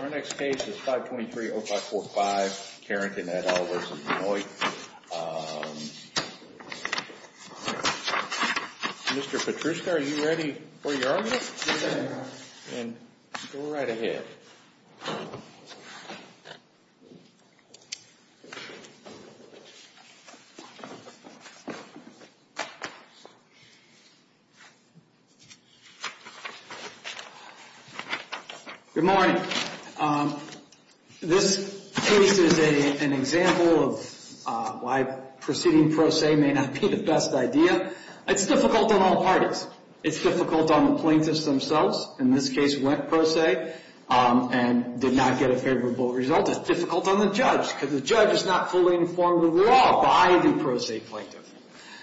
Our next case is 523-0545 Carrington v. Benoit. Mr. Petruska, are you ready for your argument? Yes, sir. Then go right ahead. Good morning. This case is an example of why proceeding pro se may not be the best idea. It's difficult on all parties. It's difficult on the plaintiffs themselves. In this case, went pro se and did not get a favorable result. It's difficult on the judge because the judge is not fully informed of the law by the pro se plaintiff.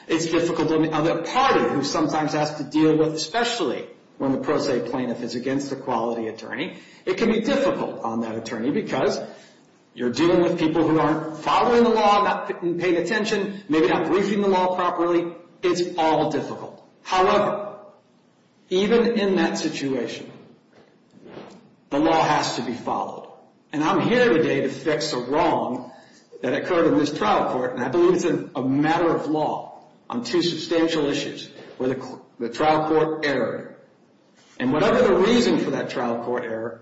It's difficult on the other party who sometimes has to deal with, especially when the pro se plaintiff is against a quality attorney. It can be difficult on that attorney because you're dealing with people who aren't following the law, not paying attention, maybe not briefing the law properly. It's all difficult. However, even in that situation, the law has to be followed. And I'm here today to fix a wrong that occurred in this trial court, and I believe it's a matter of law on two substantial issues, where the trial court erred. And whatever the reason for that trial court error,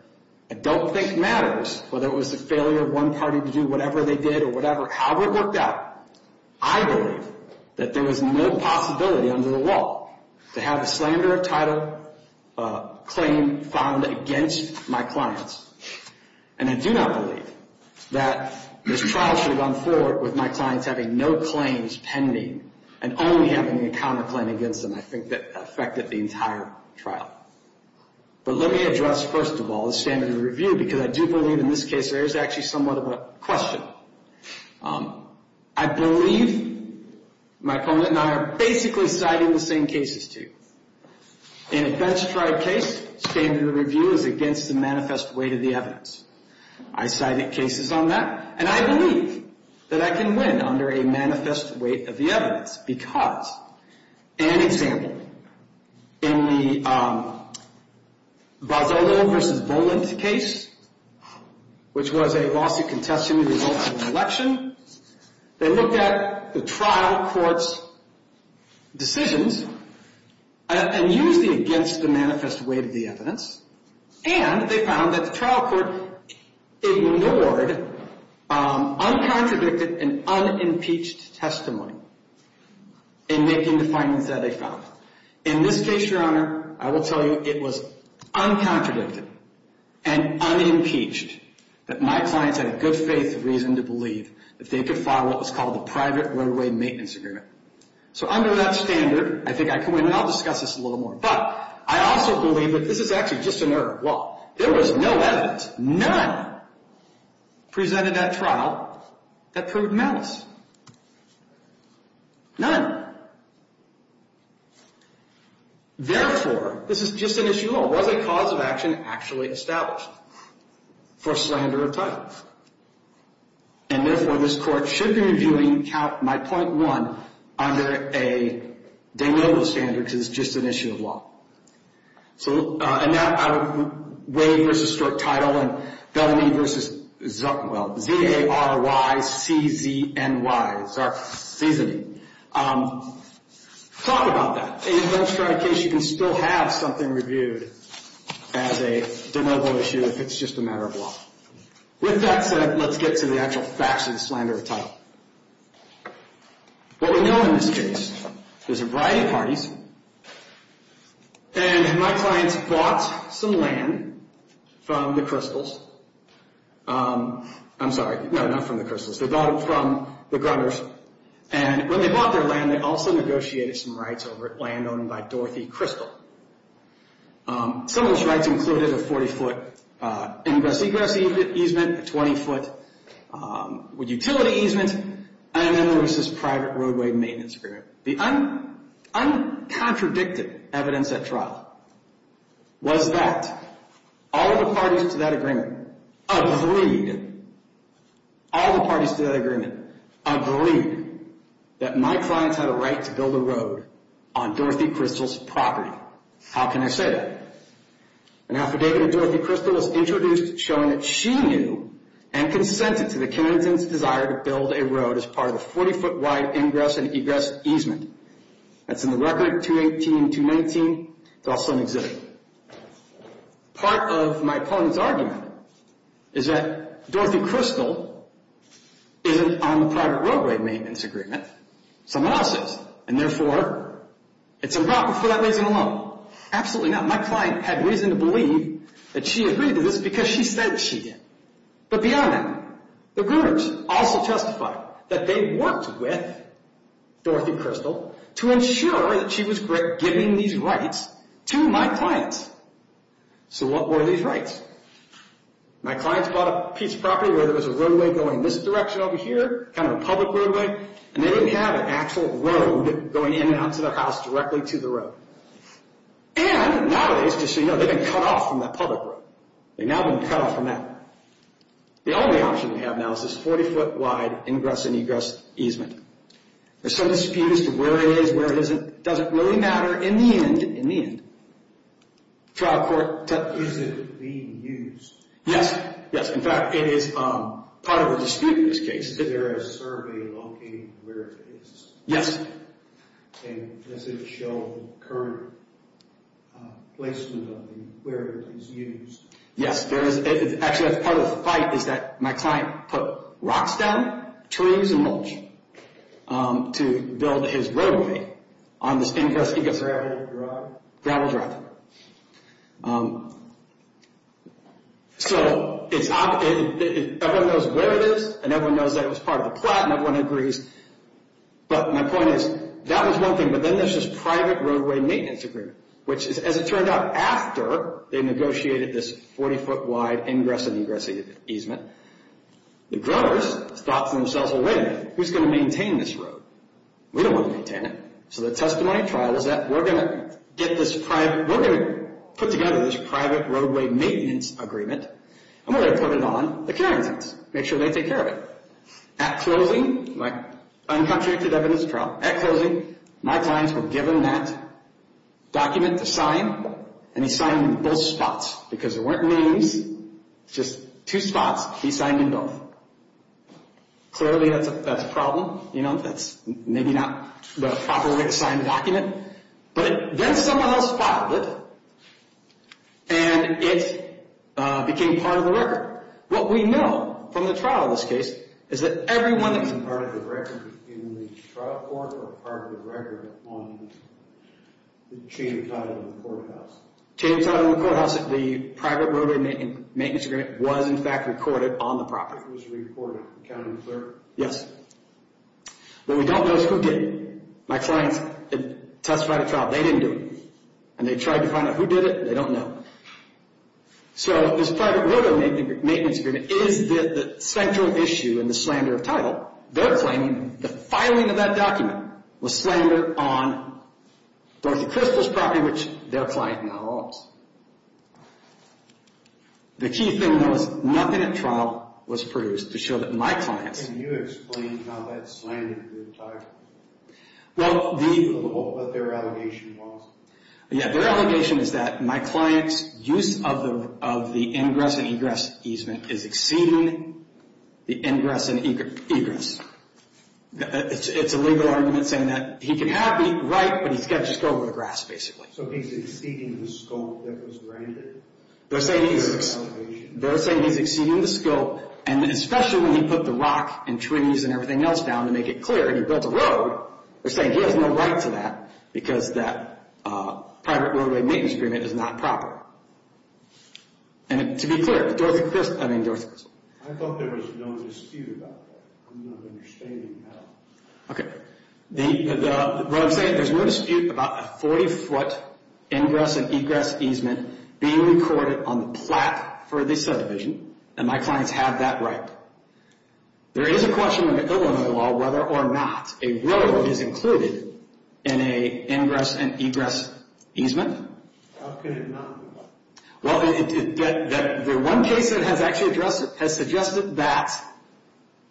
I don't think matters, whether it was the failure of one party to do whatever they did or whatever. However it worked out, I believe that there was no possibility under the law to have a slander of title claim filed against my clients. And I do not believe that this trial should have gone forward with my clients having no claims pending and only having a counterclaim against them. I think that affected the entire trial. But let me address, first of all, the standard of review, because I do believe in this case there is actually somewhat of a question. I believe my opponent and I are basically citing the same cases, too. In a bench-tried case, standard of review is against the manifest weight of the evidence. I cited cases on that, and I believe that I can win under a manifest weight of the evidence. That's because, an example, in the Vazolo v. Boland case, which was a lawsuit contesting the results of an election, they looked at the trial court's decisions and used the against the manifest weight of the evidence, and they found that the trial court ignored uncontradicted and unimpeached testimony in making the findings that they found. In this case, Your Honor, I will tell you it was uncontradicted and unimpeached that my clients had a good faith reason to believe that they could file what was called a private roadway maintenance agreement. So under that standard, I think I can win, and I'll discuss this a little more. But I also believe that this is actually just an error of law. There was no evidence, none, presented at trial that proved malice. None. Therefore, this is just an issue of law. Was a cause of action actually established for slander of title? And therefore, this court should be reviewing my point one under a de novo standard because it's just an issue of law. And now, Wade v. Stork Title and Bellamy v. Zuckenwald. Z-A-R-Y-C-Z-N-Y. Talk about that. In a bench trial case, you can still have something reviewed as a de novo issue if it's just a matter of law. With that said, let's get to the actual facts of the slander of title. What we know in this case is a variety of parties. And my clients bought some land from the Crystals. I'm sorry, no, not from the Crystals. They bought it from the Grunners. And when they bought their land, they also negotiated some rights over it, land owned by Dorothy Crystal. Some of those rights included a 40-foot ingress-egress easement, a 20-foot utility easement, and then there was this private roadway maintenance agreement. The uncontradicted evidence at trial was that all of the parties to that agreement agreed, all of the parties to that agreement agreed that my clients had a right to build a road on Dorothy Crystal's property. How can I say that? An affidavit of Dorothy Crystal was introduced showing that she knew and consented to the candidate's desire to build a road as part of a 40-foot wide ingress-egress easement. That's in the record, 218-219. It's also in exhibit. Part of my opponent's argument is that Dorothy Crystal isn't on the private roadway maintenance agreement. Someone else is, and therefore, it's improper for that reason alone. Absolutely not. My client had reason to believe that she agreed to this because she said she did. But beyond that, the Grunners also testified that they worked with Dorothy Crystal to ensure that she was giving these rights to my clients. So what were these rights? My clients bought a piece of property where there was a roadway going this direction over here, kind of a public roadway, and they didn't have an actual road going in and out to their house directly to the road. And nowadays, just so you know, they've been cut off from that public road. They've now been cut off from that. The only option we have now is this 40-foot wide ingress-egress easement. There's some disputes as to where it is, where it isn't. It doesn't really matter in the end. Is it being used? Yes. In fact, it is part of a dispute in this case. Is there a survey locating where it is? Yes. And does it show the current placement of where it is used? Yes. Actually, that's part of the fight, is that my client put rocks down, trees, and mulch to build his roadway on this ingress-egress. Gravel and gravel? Gravel and gravel. So everyone knows where it is, and everyone knows that it was part of the plot, and everyone agrees. But my point is, that was one thing, but then there's this private roadway maintenance agreement, which, as it turned out, after they negotiated this 40-foot wide ingress-egress easement, the growers thought to themselves, wait a minute, who's going to maintain this road? We don't want to maintain it. So the testimony trial is that we're going to put together this private roadway maintenance agreement, and we're going to put it on the caretakers, make sure they take care of it. At closing, my clients were given that document to sign, and he signed in both spots, because there weren't names, just two spots. He signed in both. Clearly, that's a problem. That's maybe not the proper way to sign a document. But then someone else filed it, and it became part of the record. What we know from the trial of this case is that everyone that was part of the record in the trial court or part of the record on the chain of title of the courthouse. Chain of title of the courthouse, the private roadway maintenance agreement was, in fact, recorded on the property. It was recorded. Yes. What we don't know is who did it. My clients testified at trial. They didn't do it, and they tried to find out who did it. They don't know. So this private roadway maintenance agreement is the central issue in the slander of title. They're claiming the filing of that document was slander on Dorothy Crystal's property, which their client now owns. The key thing, though, is nothing at trial was produced to show that my clients... Can you explain how that slandered their title? What their allegation was? Their allegation is that my client's use of the ingress and egress easement is exceeding the ingress and egress. It's a legal argument saying that he can have the right, but he's got to just go over the grass, basically. So he's exceeding the scope that was granted? They're saying he's exceeding the scope, and especially when he put the rock and trees and everything else down to make it clear. They're saying he has no right to that because that private roadway maintenance agreement is not proper. And to be clear, Dorothy Crystal... I thought there was no dispute about that. I'm not understanding that. Okay. What I'm saying, there's no dispute about a 40-foot ingress and egress easement being recorded on the plat for the subdivision, and my clients have that right. There is a question in the Illinois law whether or not a road is included in an ingress and egress easement. How can it not be? Well, the one case that has actually suggested that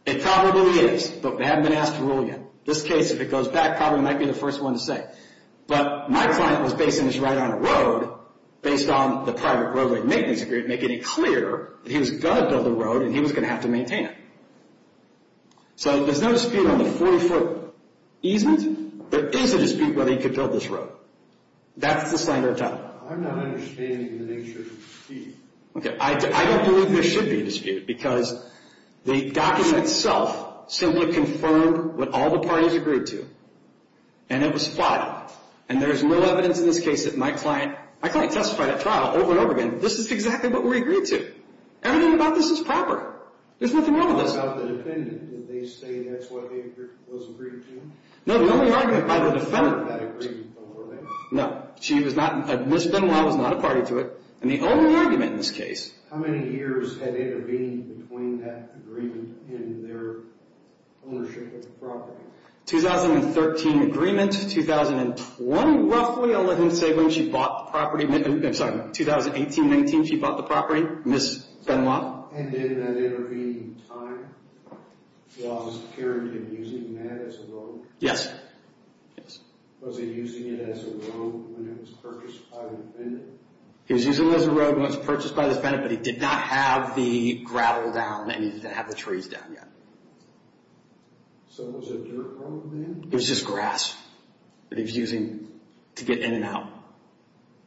it probably is, but they haven't been asked to rule yet. This case, if it goes back, probably might be the first one to say. But my client was basing his right on a road based on the private roadway maintenance agreement to make it clear that he was going to build a road and he was going to have to maintain it. So there's no dispute on the 40-foot easement. There is a dispute whether he could build this road. That's the slander title. I'm not understanding the nature of the dispute. Okay. I don't believe there should be a dispute because the document itself simply confirmed what all the parties agreed to, and it was plotted. And there's no evidence in this case that my client... This is exactly what we agreed to. Everything about this is proper. There's nothing wrong with this. What about the defendant? Did they say that's what was agreed to? No, the only argument by the defendant... She was not a part of that agreement beforehand. No. Ms. Benoit was not a party to it. And the only argument in this case... How many years had intervened between that agreement and their ownership of the property? 2013 agreement. 2012, roughly. I'll let him say when she bought the property. I'm sorry. 2018-19, she bought the property. Ms. Benoit. And in that intervening time, was Karen Kim using that as a road? Yes. Yes. Was he using it as a road when it was purchased by the defendant? He was using it as a road when it was purchased by the defendant, but he did not have the gravel down and he didn't have the trees down yet. So it was a dirt road then? It was just grass that he was using to get in and out.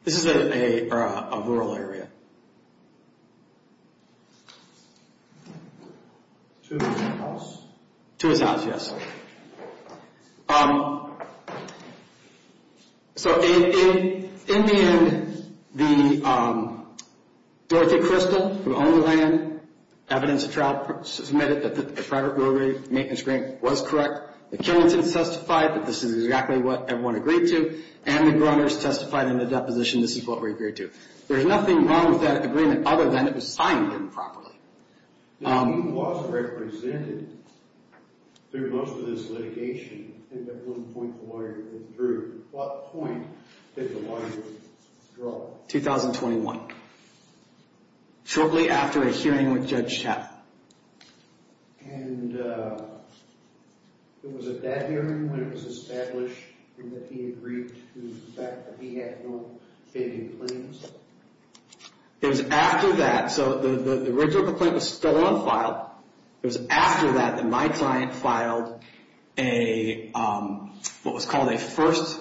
This is a rural area. To his house? To his house, yes. So in the end, Dorothy Crystal, who owned the land, evidence of trial, submitted that the private roadway maintenance grant was correct. The Kennetons testified that this is exactly what everyone agreed to, and the Gruners testified in the deposition this is what we agreed to. There's nothing wrong with that agreement other than it was signed improperly. When he was represented through most of this litigation, I think at one point the lawyer withdrew, at what point did the lawyer withdraw? 2021. Shortly after a hearing with Judge Chappell. And was it that hearing when it was established that he agreed to the fact that he had no failing claims? It was after that, so the original complaint was still unfiled, it was after that that my client filed what was called a first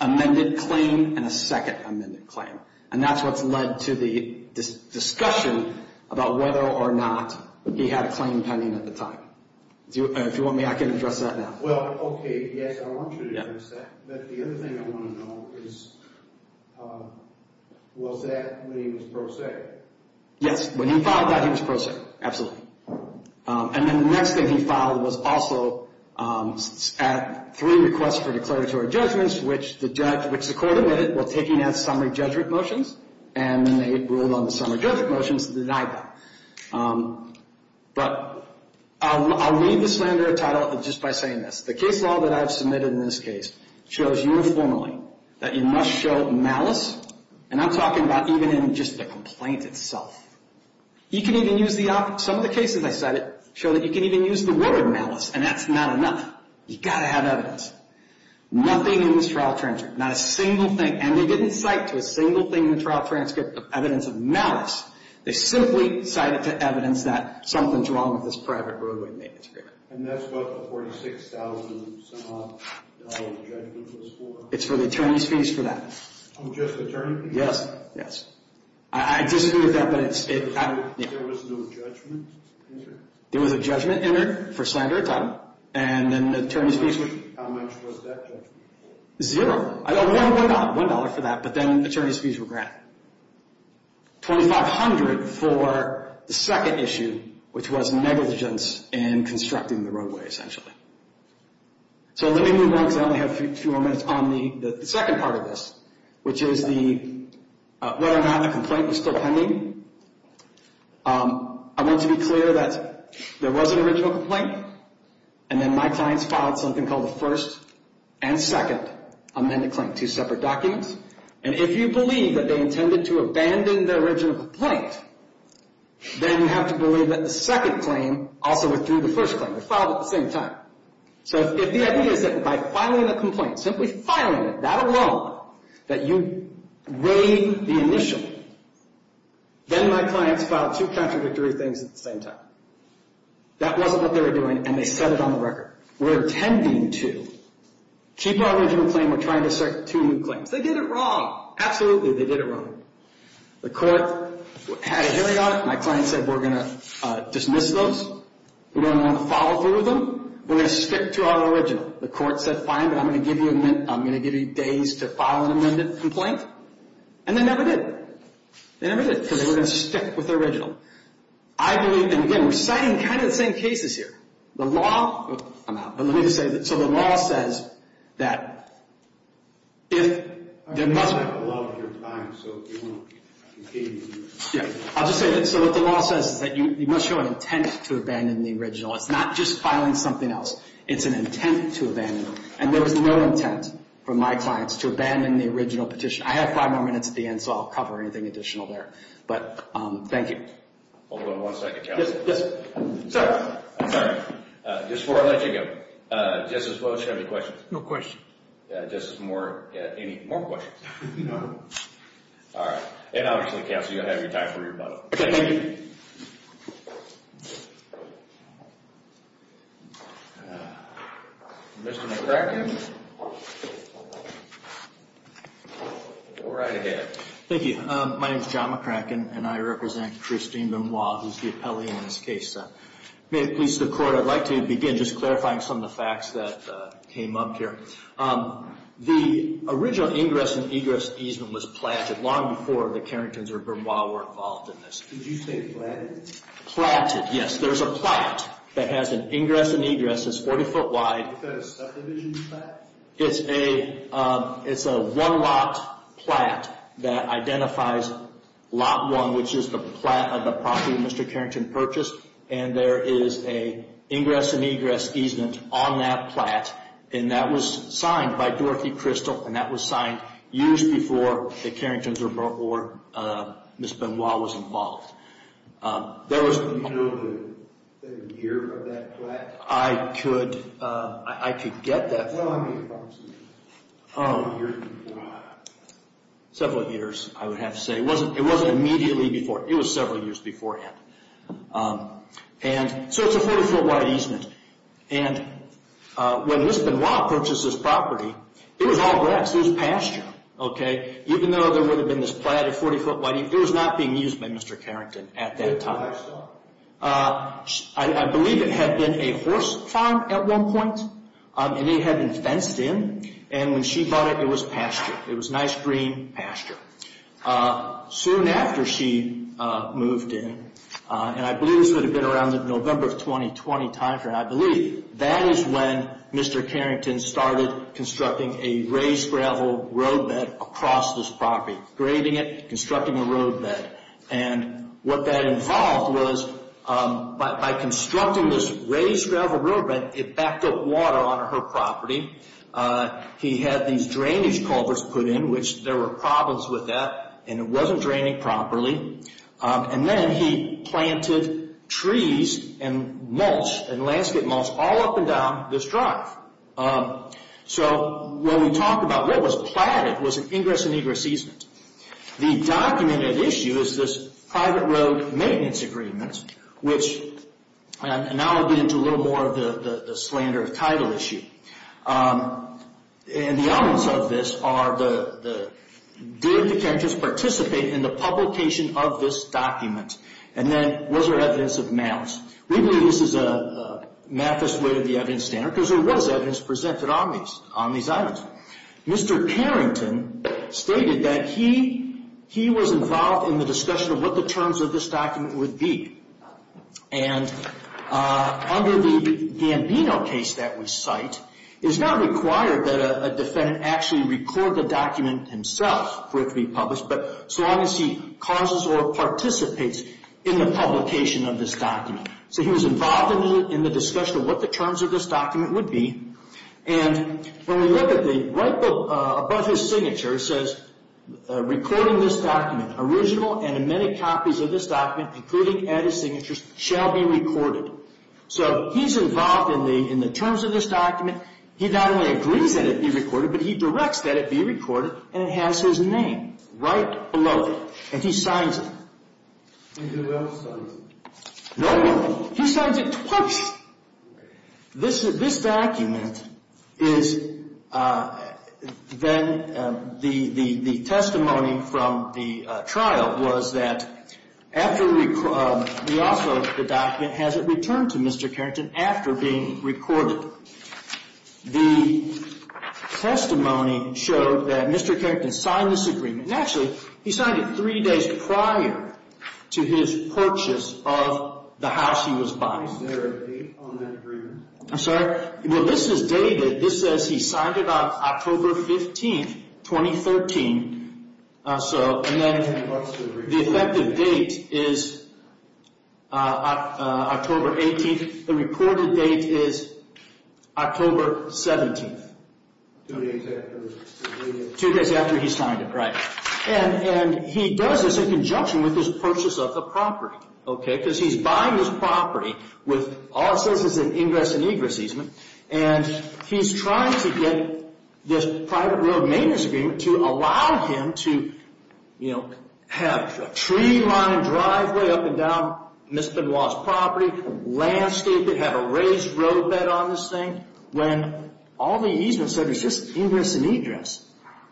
amended claim and a second amended claim. And that's what's led to the discussion about whether or not he had a claim pending at the time. If you want me, I can address that now. Well, okay, yes, I want you to address that. But the other thing I want to know is, was that when he was pro se? Yes, when he filed that he was pro se, absolutely. And then the next thing he filed was also three requests for declaratory judgments, which the court admitted were taking out summary judgment motions, and then they ruled on the summary judgment motions that denied that. But I'll leave the slander title just by saying this. The case law that I've submitted in this case shows uniformly that you must show malice, and I'm talking about even in just the complaint itself. You can even use the op – some of the cases I cited show that you can even use the word malice, and that's not enough. You've got to have evidence. Nothing in this trial transcript, not a single thing, and they didn't cite to a single thing in the trial transcript of evidence of malice. They simply cited to evidence that something's wrong with this private roadway manuscript. And that's what the $46,000-some-odd judgment was for? It's for the attorney's fees for that. Oh, just attorney fees? Yes, yes. I disagree with that, but it's – There was no judgment entered? There was a judgment entered for slander title, and then the attorney's fees were – How much was that judgment for? Zero. $1 for that, but then attorney's fees were granted. $2,500 for the second issue, which was negligence in constructing the roadway, essentially. So let me move on because I only have a few more minutes on the second part of this, which is the – whether or not the complaint was still pending. I want to be clear that there was an original complaint, and then my clients filed something called a first and second amended claim, two separate documents. And if you believe that they intended to abandon the original complaint, then you have to believe that the second claim also withdrew the first claim. They filed at the same time. So if the idea is that by filing a complaint, simply filing it, that alone, that you waive the initial, then my clients filed two contradictory things at the same time. That wasn't what they were doing, and they set it on the record. We're intending to keep our original claim. We're trying to assert two new claims. They did it wrong. Absolutely, they did it wrong. The court had a hearing on it. My client said, we're going to dismiss those. We don't want to follow through with them. We're going to stick to our original. The court said, fine, but I'm going to give you days to file an amended complaint. And they never did. They never did because they were going to stick with the original. I believe, and again, we're citing kind of the same cases here. The law, I'm out. But let me just say, so the law says that if there must be. I don't have a lot of your time, so if you want to continue. Yeah. I'll just say, so what the law says is that you must show an intent to abandon the original. It's not just filing something else. It's an intent to abandon. And there was no intent from my clients to abandon the original petition. I have five more minutes at the end, so I'll cover anything additional there. But, thank you. Hold on one second, counsel. Yes, sir. I'm sorry. Just before I let you go. Justice Bowles, do you have any questions? No questions. Justice Moore, any more questions? No. All right. And obviously, counsel, you'll have your time for your vote. Okay, thank you. Mr. McCracken. Go right ahead. Thank you. Good evening. My name is John McCracken, and I represent Christine Bermois, who's the appellee in this case. May it please the Court, I'd like to begin just clarifying some of the facts that came up here. The original ingress and egress easement was platted long before the Carringtons or Bermois were involved in this. Did you say platted? Platted, yes. There's a plat that has an ingress and egress that's 40 foot wide. Is that a subdivision plat? It's a one lot plat that identifies lot one, which is the plat of the property that Mr. Carrington purchased, and there is an ingress and egress easement on that plat, and that was signed by Dorothy Crystal, and that was signed years before the Carringtons or Ms. Bermois was involved. Do you know the year of that plat? I could get that. Several years, I would have to say. It wasn't immediately before. It was several years beforehand. So it's a 40 foot wide easement, and when Ms. Bermois purchased this property, it was all grass. It was pasture, even though there would have been this platted 40 foot wide easement. It was not being used by Mr. Carrington at that time. I believe it had been a horse farm at one point, and it had been fenced in, and when she bought it, it was pasture. It was nice green pasture. Soon after she moved in, and I believe this would have been around the November of 2020 timeframe, I believe, that is when Mr. Carrington started constructing a raised gravel roadbed across this property, grading it, constructing a roadbed, and what that involved was by constructing this raised gravel roadbed, it backed up water onto her property. He had these drainage culverts put in, which there were problems with that, and it wasn't draining properly, and then he planted trees and mulch and landscape mulch all up and down this drive. So when we talk about what was platted was an ingress and egress easement. The documented issue is this private road maintenance agreement, which now I'll get into a little more of the slander of title issue. The elements of this are did the characters participate in the publication of this document, and then was there evidence of malice. We believe this is a malice way to the evidence standard, because there was evidence presented on these items. Mr. Carrington stated that he was involved in the discussion of what the terms of this document would be, and under the Gambino case that we cite, it's not required that a defendant actually record the document himself for it to be published, but so long as he causes or participates in the publication of this document. So he was involved in the discussion of what the terms of this document would be, and when we look at the right above his signature it says, recording this document, original and many copies of this document, including added signatures, shall be recorded. So he's involved in the terms of this document. He not only agrees that it be recorded, but he directs that it be recorded, and it has his name right below it, and he signs it. He did not sign it. No, he signs it twice. This document is then the testimony from the trial was that after we also, the document hasn't returned to Mr. Carrington after being recorded. The testimony showed that Mr. Carrington signed this agreement, and actually he signed it three days prior to his purchase of the house he was buying. Is there a date on that agreement? I'm sorry? Well, this is dated. This says he signed it on October 15th, 2013, and then the effective date is October 18th. The reported date is October 17th. Two days after he signed it. Right. And he does this in conjunction with his purchase of the property, okay, because he's buying this property with all it says is an ingress and egress easement, and he's trying to get this private road maintenance agreement to allow him to, you know, have a tree-lined driveway up and down Mr. Benoit's property, landscape, have a raised roadbed on this thing, when all the easement said was just ingress and egress,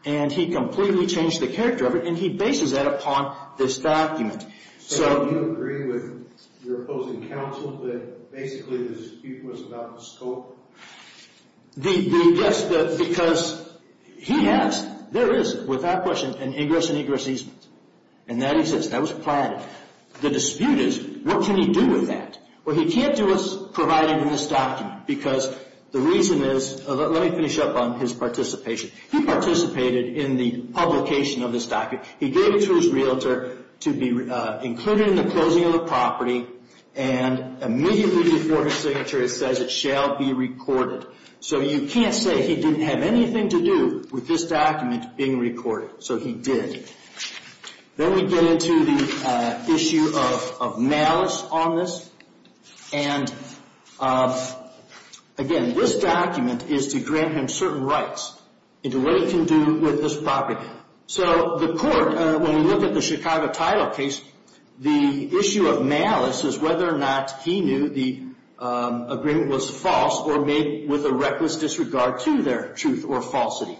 and he completely changed the character of it, and he bases that upon this document. So do you agree with your opposing counsel that basically the dispute was about the scope? Yes, because he has, there is, without question, an egress and egress easement, and that exists. That was planned. The dispute is what can he do with that? Well, he can't do what's provided in this document, because the reason is, let me finish up on his participation. He participated in the publication of this document. He gave it to his realtor to be included in the closing of the property, and immediately before his signature it says it shall be recorded. So you can't say he didn't have anything to do with this document being recorded. So he did. Then we get into the issue of malice on this. And, again, this document is to grant him certain rights into what he can do with this property. So the court, when we look at the Chicago title case, the issue of malice is whether or not he knew the agreement was false or made with a reckless disregard to their truth or falsity.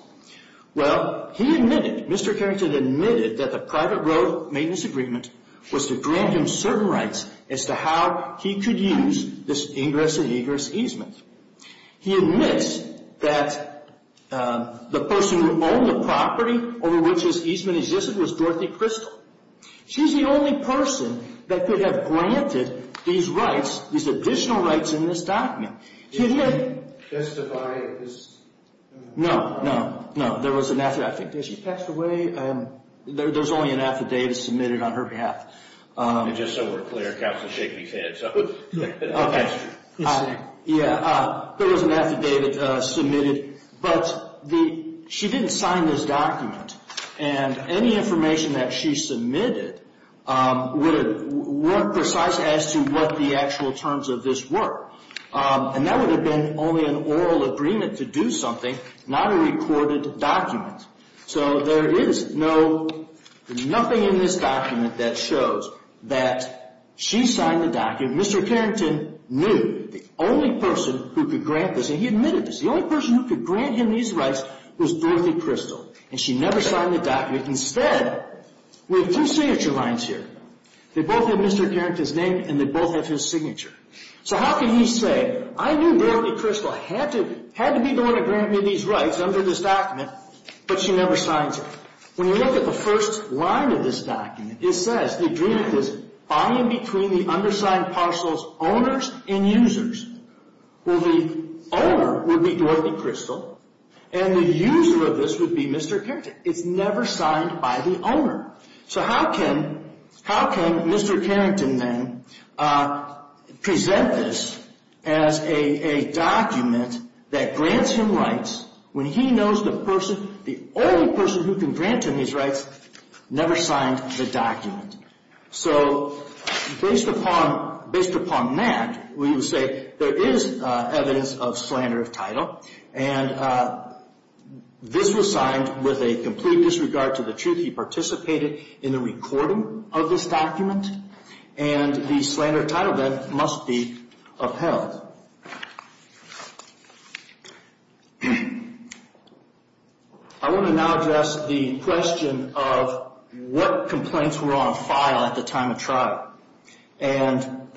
Well, he admitted, Mr. Carrington admitted, that the private road maintenance agreement was to grant him certain rights as to how he could use this egress and egress easement. He admits that the person who owned the property over which his easement existed was Dorothy Crystal. She's the only person that could have granted these rights, these additional rights in this document. Can you testify? No, no, no. There was an affidavit. Did she pass away? There's only an affidavit submitted on her behalf. Just so we're clear, counsel is shaking his head. Okay. Yeah, there was an affidavit submitted. But she didn't sign this document. And any information that she submitted weren't precise as to what the actual terms of this were. And that would have been only an oral agreement to do something, not a recorded document. So there is nothing in this document that shows that she signed the document. Mr. Carrington knew. The only person who could grant this, and he admitted this, the only person who could grant him these rights was Dorothy Crystal. And she never signed the document. Instead, we have two signature lines here. They both have Mr. Carrington's name, and they both have his signature. So how can he say, I knew Dorothy Crystal had to be the one to grant me these rights under this document, but she never signs it? When you look at the first line of this document, it says the agreement is buying between the undersigned parcel's owners and users. Well, the owner would be Dorothy Crystal, and the user of this would be Mr. Carrington. It's never signed by the owner. So how can Mr. Carrington then present this as a document that grants him rights when he knows the person, the only person who can grant him these rights, never signed the document? So based upon that, we would say there is evidence of slander of title, and this was signed with a complete disregard to the truth. He participated in the recording of this document, and the slander of title then must be upheld. I want to now address the question of what complaints were on file at the time of trial. And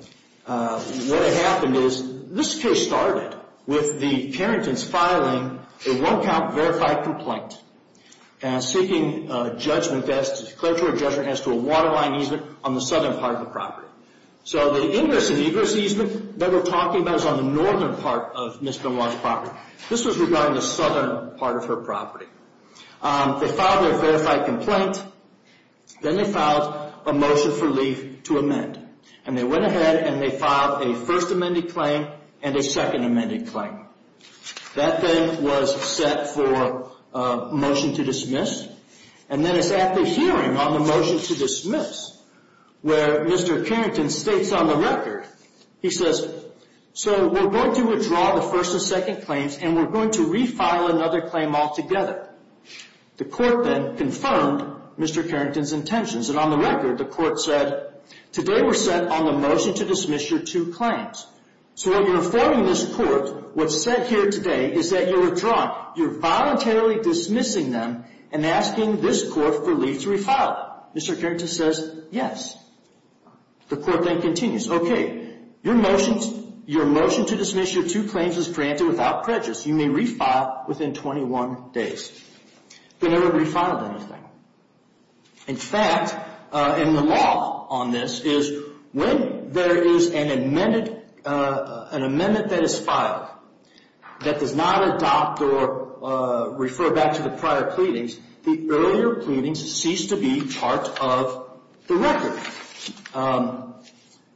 what had happened is this case started with the Carrington's filing a one-count verified complaint seeking a judgment, a declaratory judgment as to a waterline easement on the southern part of the property. So the ingress and egress easement that we're talking about is on the northern part of Ms. Benoit's property. This was regarding the southern part of her property. They filed their verified complaint. Then they filed a motion for leave to amend, and they went ahead and they filed a first amended claim and a second amended claim. That then was set for motion to dismiss, and then it's at the hearing on the motion to dismiss where Mr. Carrington states on the record, he says, so we're going to withdraw the first and second claims, and we're going to refile another claim altogether. The court then confirmed Mr. Carrington's intentions, and on the record the court said, today we're set on the motion to dismiss your two claims. So when you're informing this court what's set here today is that you're withdrawing. You're voluntarily dismissing them and asking this court for leave to refile them. Mr. Carrington says yes. The court then continues, okay, your motion to dismiss your two claims is granted without prejudice. You may refile within 21 days. They never refiled anything. In fact, and the law on this is when there is an amendment that is filed that does not adopt or refer back to the prior pleadings, the earlier pleadings cease to be part of the record.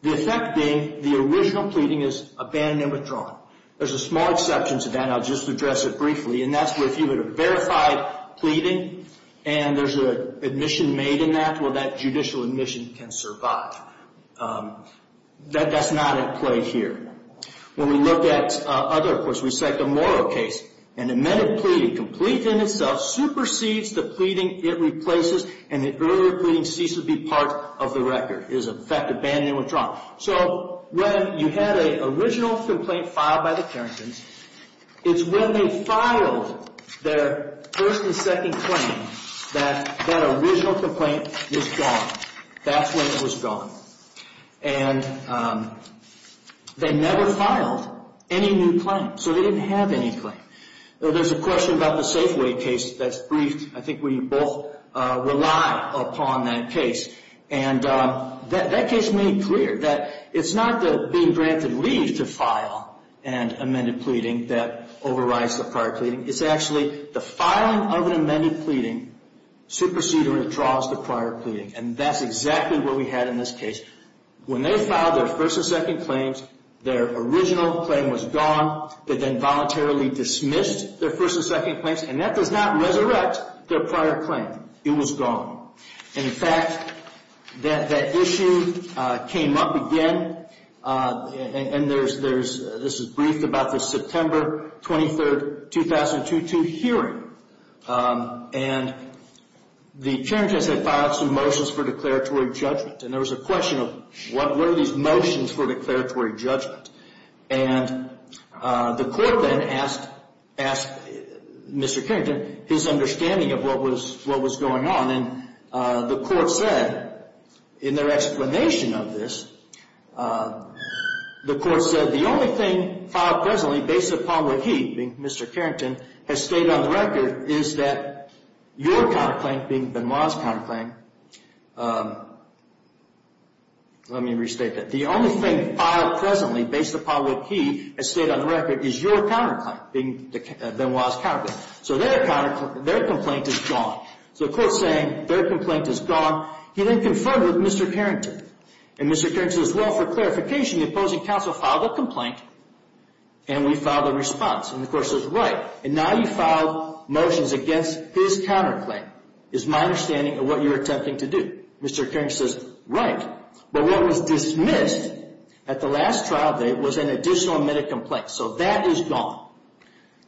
There's a small exception to that, and I'll just address it briefly, and that's where if you had a verified pleading and there's an admission made in that, well, that judicial admission can survive. That's not at play here. When we look at other courts, we cite the Morrow case. An amended pleading, complete in itself, supersedes the pleading it replaces, and the earlier pleading ceases to be part of the record. It is, in fact, abandoned and withdrawn. So when you had an original complaint filed by the Carringtons, it's when they filed their first and second claim that that original complaint is gone. That's when it was gone. And they never filed any new claims, so they didn't have any claims. There's a question about the Safeway case that's briefed, I think, where you both rely upon that case. And that case made clear that it's not the being granted leave to file an amended pleading that overrides the prior pleading. It's actually the filing of an amended pleading supersedes or withdraws the prior pleading, and that's exactly what we had in this case. When they filed their first and second claims, their original claim was gone. They then voluntarily dismissed their first and second claims, and that does not resurrect their prior claim. It was gone. And, in fact, that issue came up again, and this is briefed about the September 23, 2002 hearing. And the Carringtons had filed some motions for declaratory judgment, and there was a question of what were these motions for declaratory judgment. And the court then asked Mr. Carrington his understanding of what was going on, and the court said in their explanation of this, the court said, the only thing filed presently based upon what he, being Mr. Carrington, has stated on the record is that your counterclaim, being Benoit's counterclaim. Let me restate that. The only thing filed presently based upon what he has stated on the record is your counterclaim, being Benoit's counterclaim. So their complaint is gone. So the court's saying their complaint is gone. He then confronted Mr. Carrington, and Mr. Carrington says, well, for clarification, the opposing counsel filed a complaint, and we filed a response. And the court says, right, and now you've filed motions against his counterclaim. It's my understanding of what you're attempting to do. Mr. Carrington says, right. But what was dismissed at the last trial date was an additional admitted complaint, so that is gone.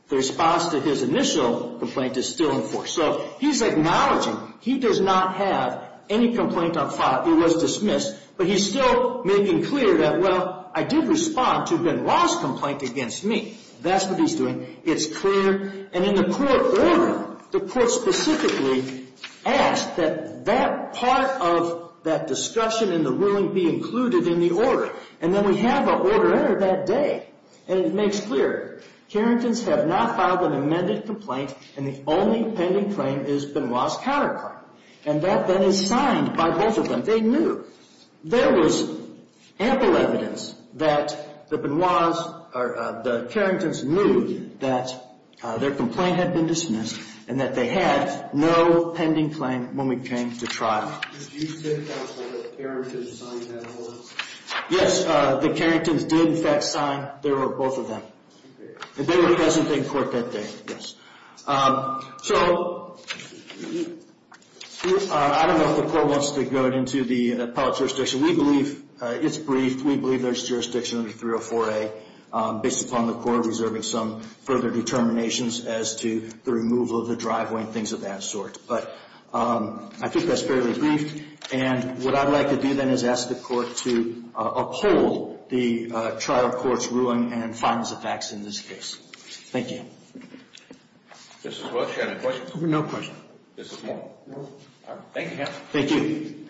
The response to his initial complaint is still in force. So he's acknowledging he does not have any complaint on file. It was dismissed. But he's still making clear that, well, I did respond to Benoit's complaint against me. That's what he's doing. It's clear. And in the court order, the court specifically asked that that part of that discussion and the ruling be included in the order. And then we have an order there that day, and it makes clear. Carrington's have not filed an amended complaint, and the only pending claim is Benoit's counterclaim. And that then is signed by both of them. They knew. There was ample evidence that the Carrington's knew that their complaint had been dismissed and that they had no pending claim when we came to trial. Yes, the Carrington's did, in fact, sign. There were both of them. And they were present in court that day, yes. So I don't know if the court wants to go into the appellate jurisdiction. We believe it's brief. We believe there's jurisdiction under 304A based upon the court reserving some further determinations as to the removal of the driveway and things of that sort. But I think that's fairly brief. And what I'd like to do then is ask the court to uphold the trial court's ruling and find the facts in this case. Thank you. Mrs. Welch, any questions? No questions. Mrs. Moore. No. Thank you, counsel. Thank you.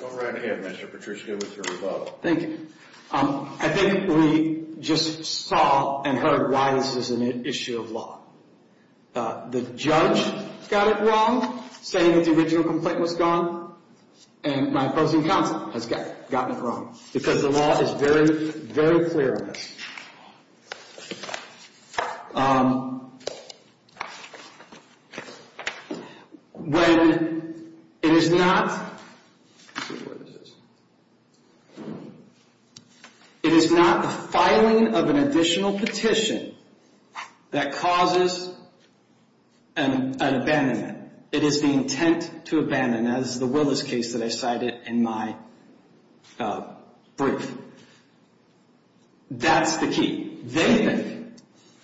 Go right ahead, Mr. Petruschke, with your rebuttal. Thank you. I think we just saw and heard why this is an issue of law. The judge got it wrong, saying that the original complaint was gone. And my opposing counsel has gotten it wrong, because the law is very, very clear on this. When it is not the filing of an additional petition that causes an abandonment, it is the intent to abandon, as the Willis case that I cited in my brief. That's the key. They think,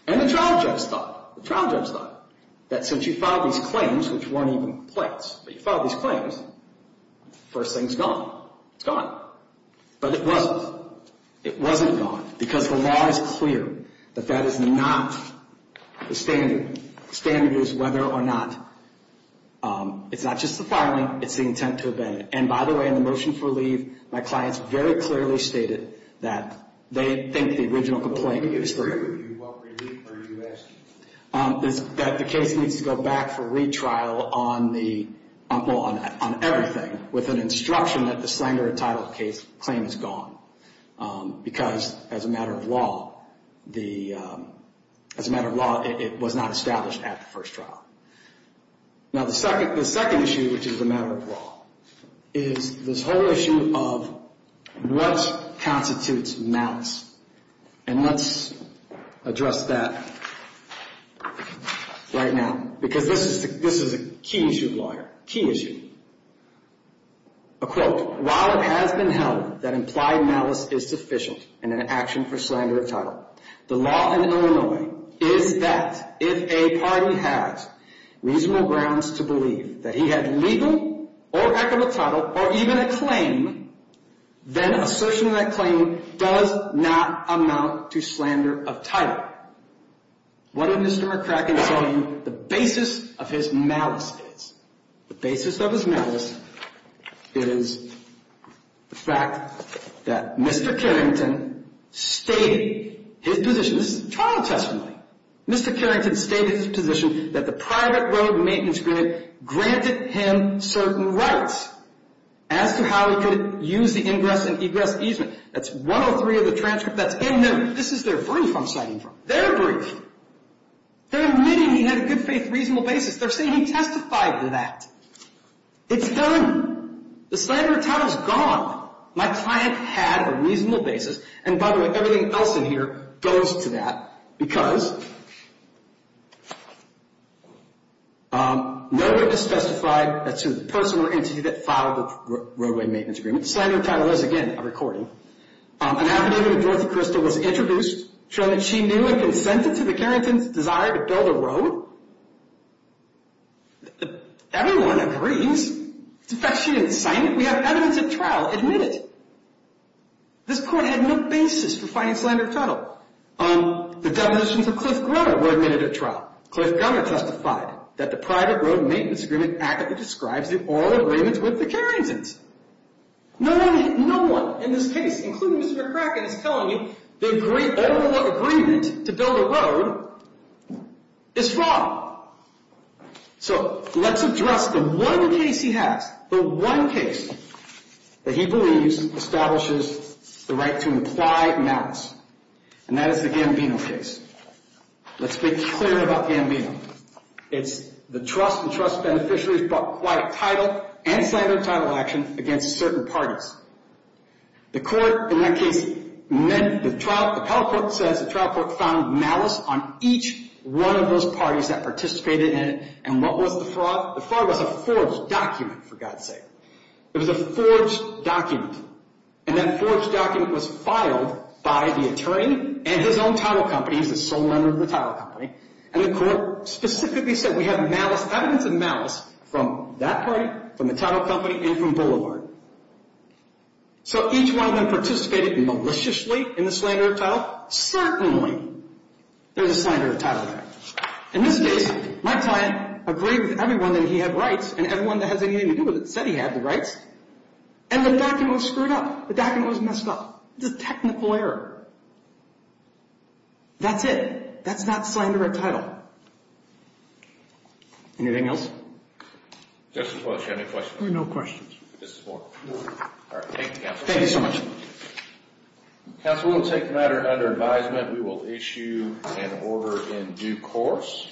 and the trial judge thought, the trial judge thought, that since you filed these claims, which weren't even complaints, but you filed these claims, the first thing is gone. It's gone. But it wasn't. It wasn't gone, because the law is clear that that is not the standard. The standard is whether or not it's not just the filing, it's the intent to abandon. And, by the way, in the motion for leave, my clients very clearly stated that they think the original complaint is free. What relief are you asking for? That the case needs to go back for retrial on everything, with an instruction that the slanger entitled case claim is gone. Because, as a matter of law, it was not established at the first trial. The second issue is this whole issue of what constitutes malice. And let's address that right now, because this is a key issue, lawyer, key issue. A quote, while it has been held that implied malice is sufficient in an action for slander of title, the law in Illinois is that if a party has reasonable grounds to believe that he had legal or equitable title, or even a claim, then assertion of that claim does not amount to slander of title. What did Mr. McCracken say the basis of his malice is? The basis of his malice is the fact that Mr. Carrington stated his position. This is trial testimony. Mr. Carrington stated his position that the private road maintenance grant granted him certain rights as to how he could use the ingress and egress easement. That's 103 of the transcript that's in there. This is their brief I'm citing from. Their brief. They're admitting he had a good faith, reasonable basis. They're saying he testified to that. It's done. The slander of title is gone. My client had a reasonable basis. And, by the way, everything else in here goes to that because nobody has specified that's who the person or entity that filed the roadway maintenance agreement. Slander of title is, again, a recording. An affidavit of Dorothy Crystal was introduced showing that she knew and consented to the Carrington's desire to build a road. Everyone agrees. In fact, she didn't sign it. We have evidence at trial. Admit it. This court had no basis for finding slander of title. The definitions of Cliff Grunner were admitted at trial. Cliff Grunner testified that the private road maintenance agreement accurately describes the oral agreements with the Carrington's. No one in this case, including Mr. McCracken, is telling me the oral agreement to build a road is wrong. So let's address the one case he has. The one case that he believes establishes the right to imply malice, and that is the Gambino case. Let's be clear about Gambino. It's the trust and trust beneficiaries brought quiet title and slander of title action against certain parties. The court in that case meant the trial. The appellate court says the trial court found malice on each one of those parties that participated in it. And what was the fraud? The fraud was a forged document, for God's sake. It was a forged document. And that forged document was filed by the attorney and his own title company. He's the sole lender of the title company. And the court specifically said we have evidence of malice from that party, from the title company, and from Boulevard. So each one of them participated maliciously in the slander of title. Certainly there's a slander of title there. In this case, my client agreed with everyone that he had rights, and everyone that has anything to do with it said he had the rights. And the document was screwed up. The document was messed up. It's a technical error. That's it. That's not slander of title. Anything else? Justice Walsh, do you have any questions? We have no questions. Justice Moore. All right. Thank you, counsel. Thank you so much. Counsel, we will take the matter under advisement. And we will issue an order in due course.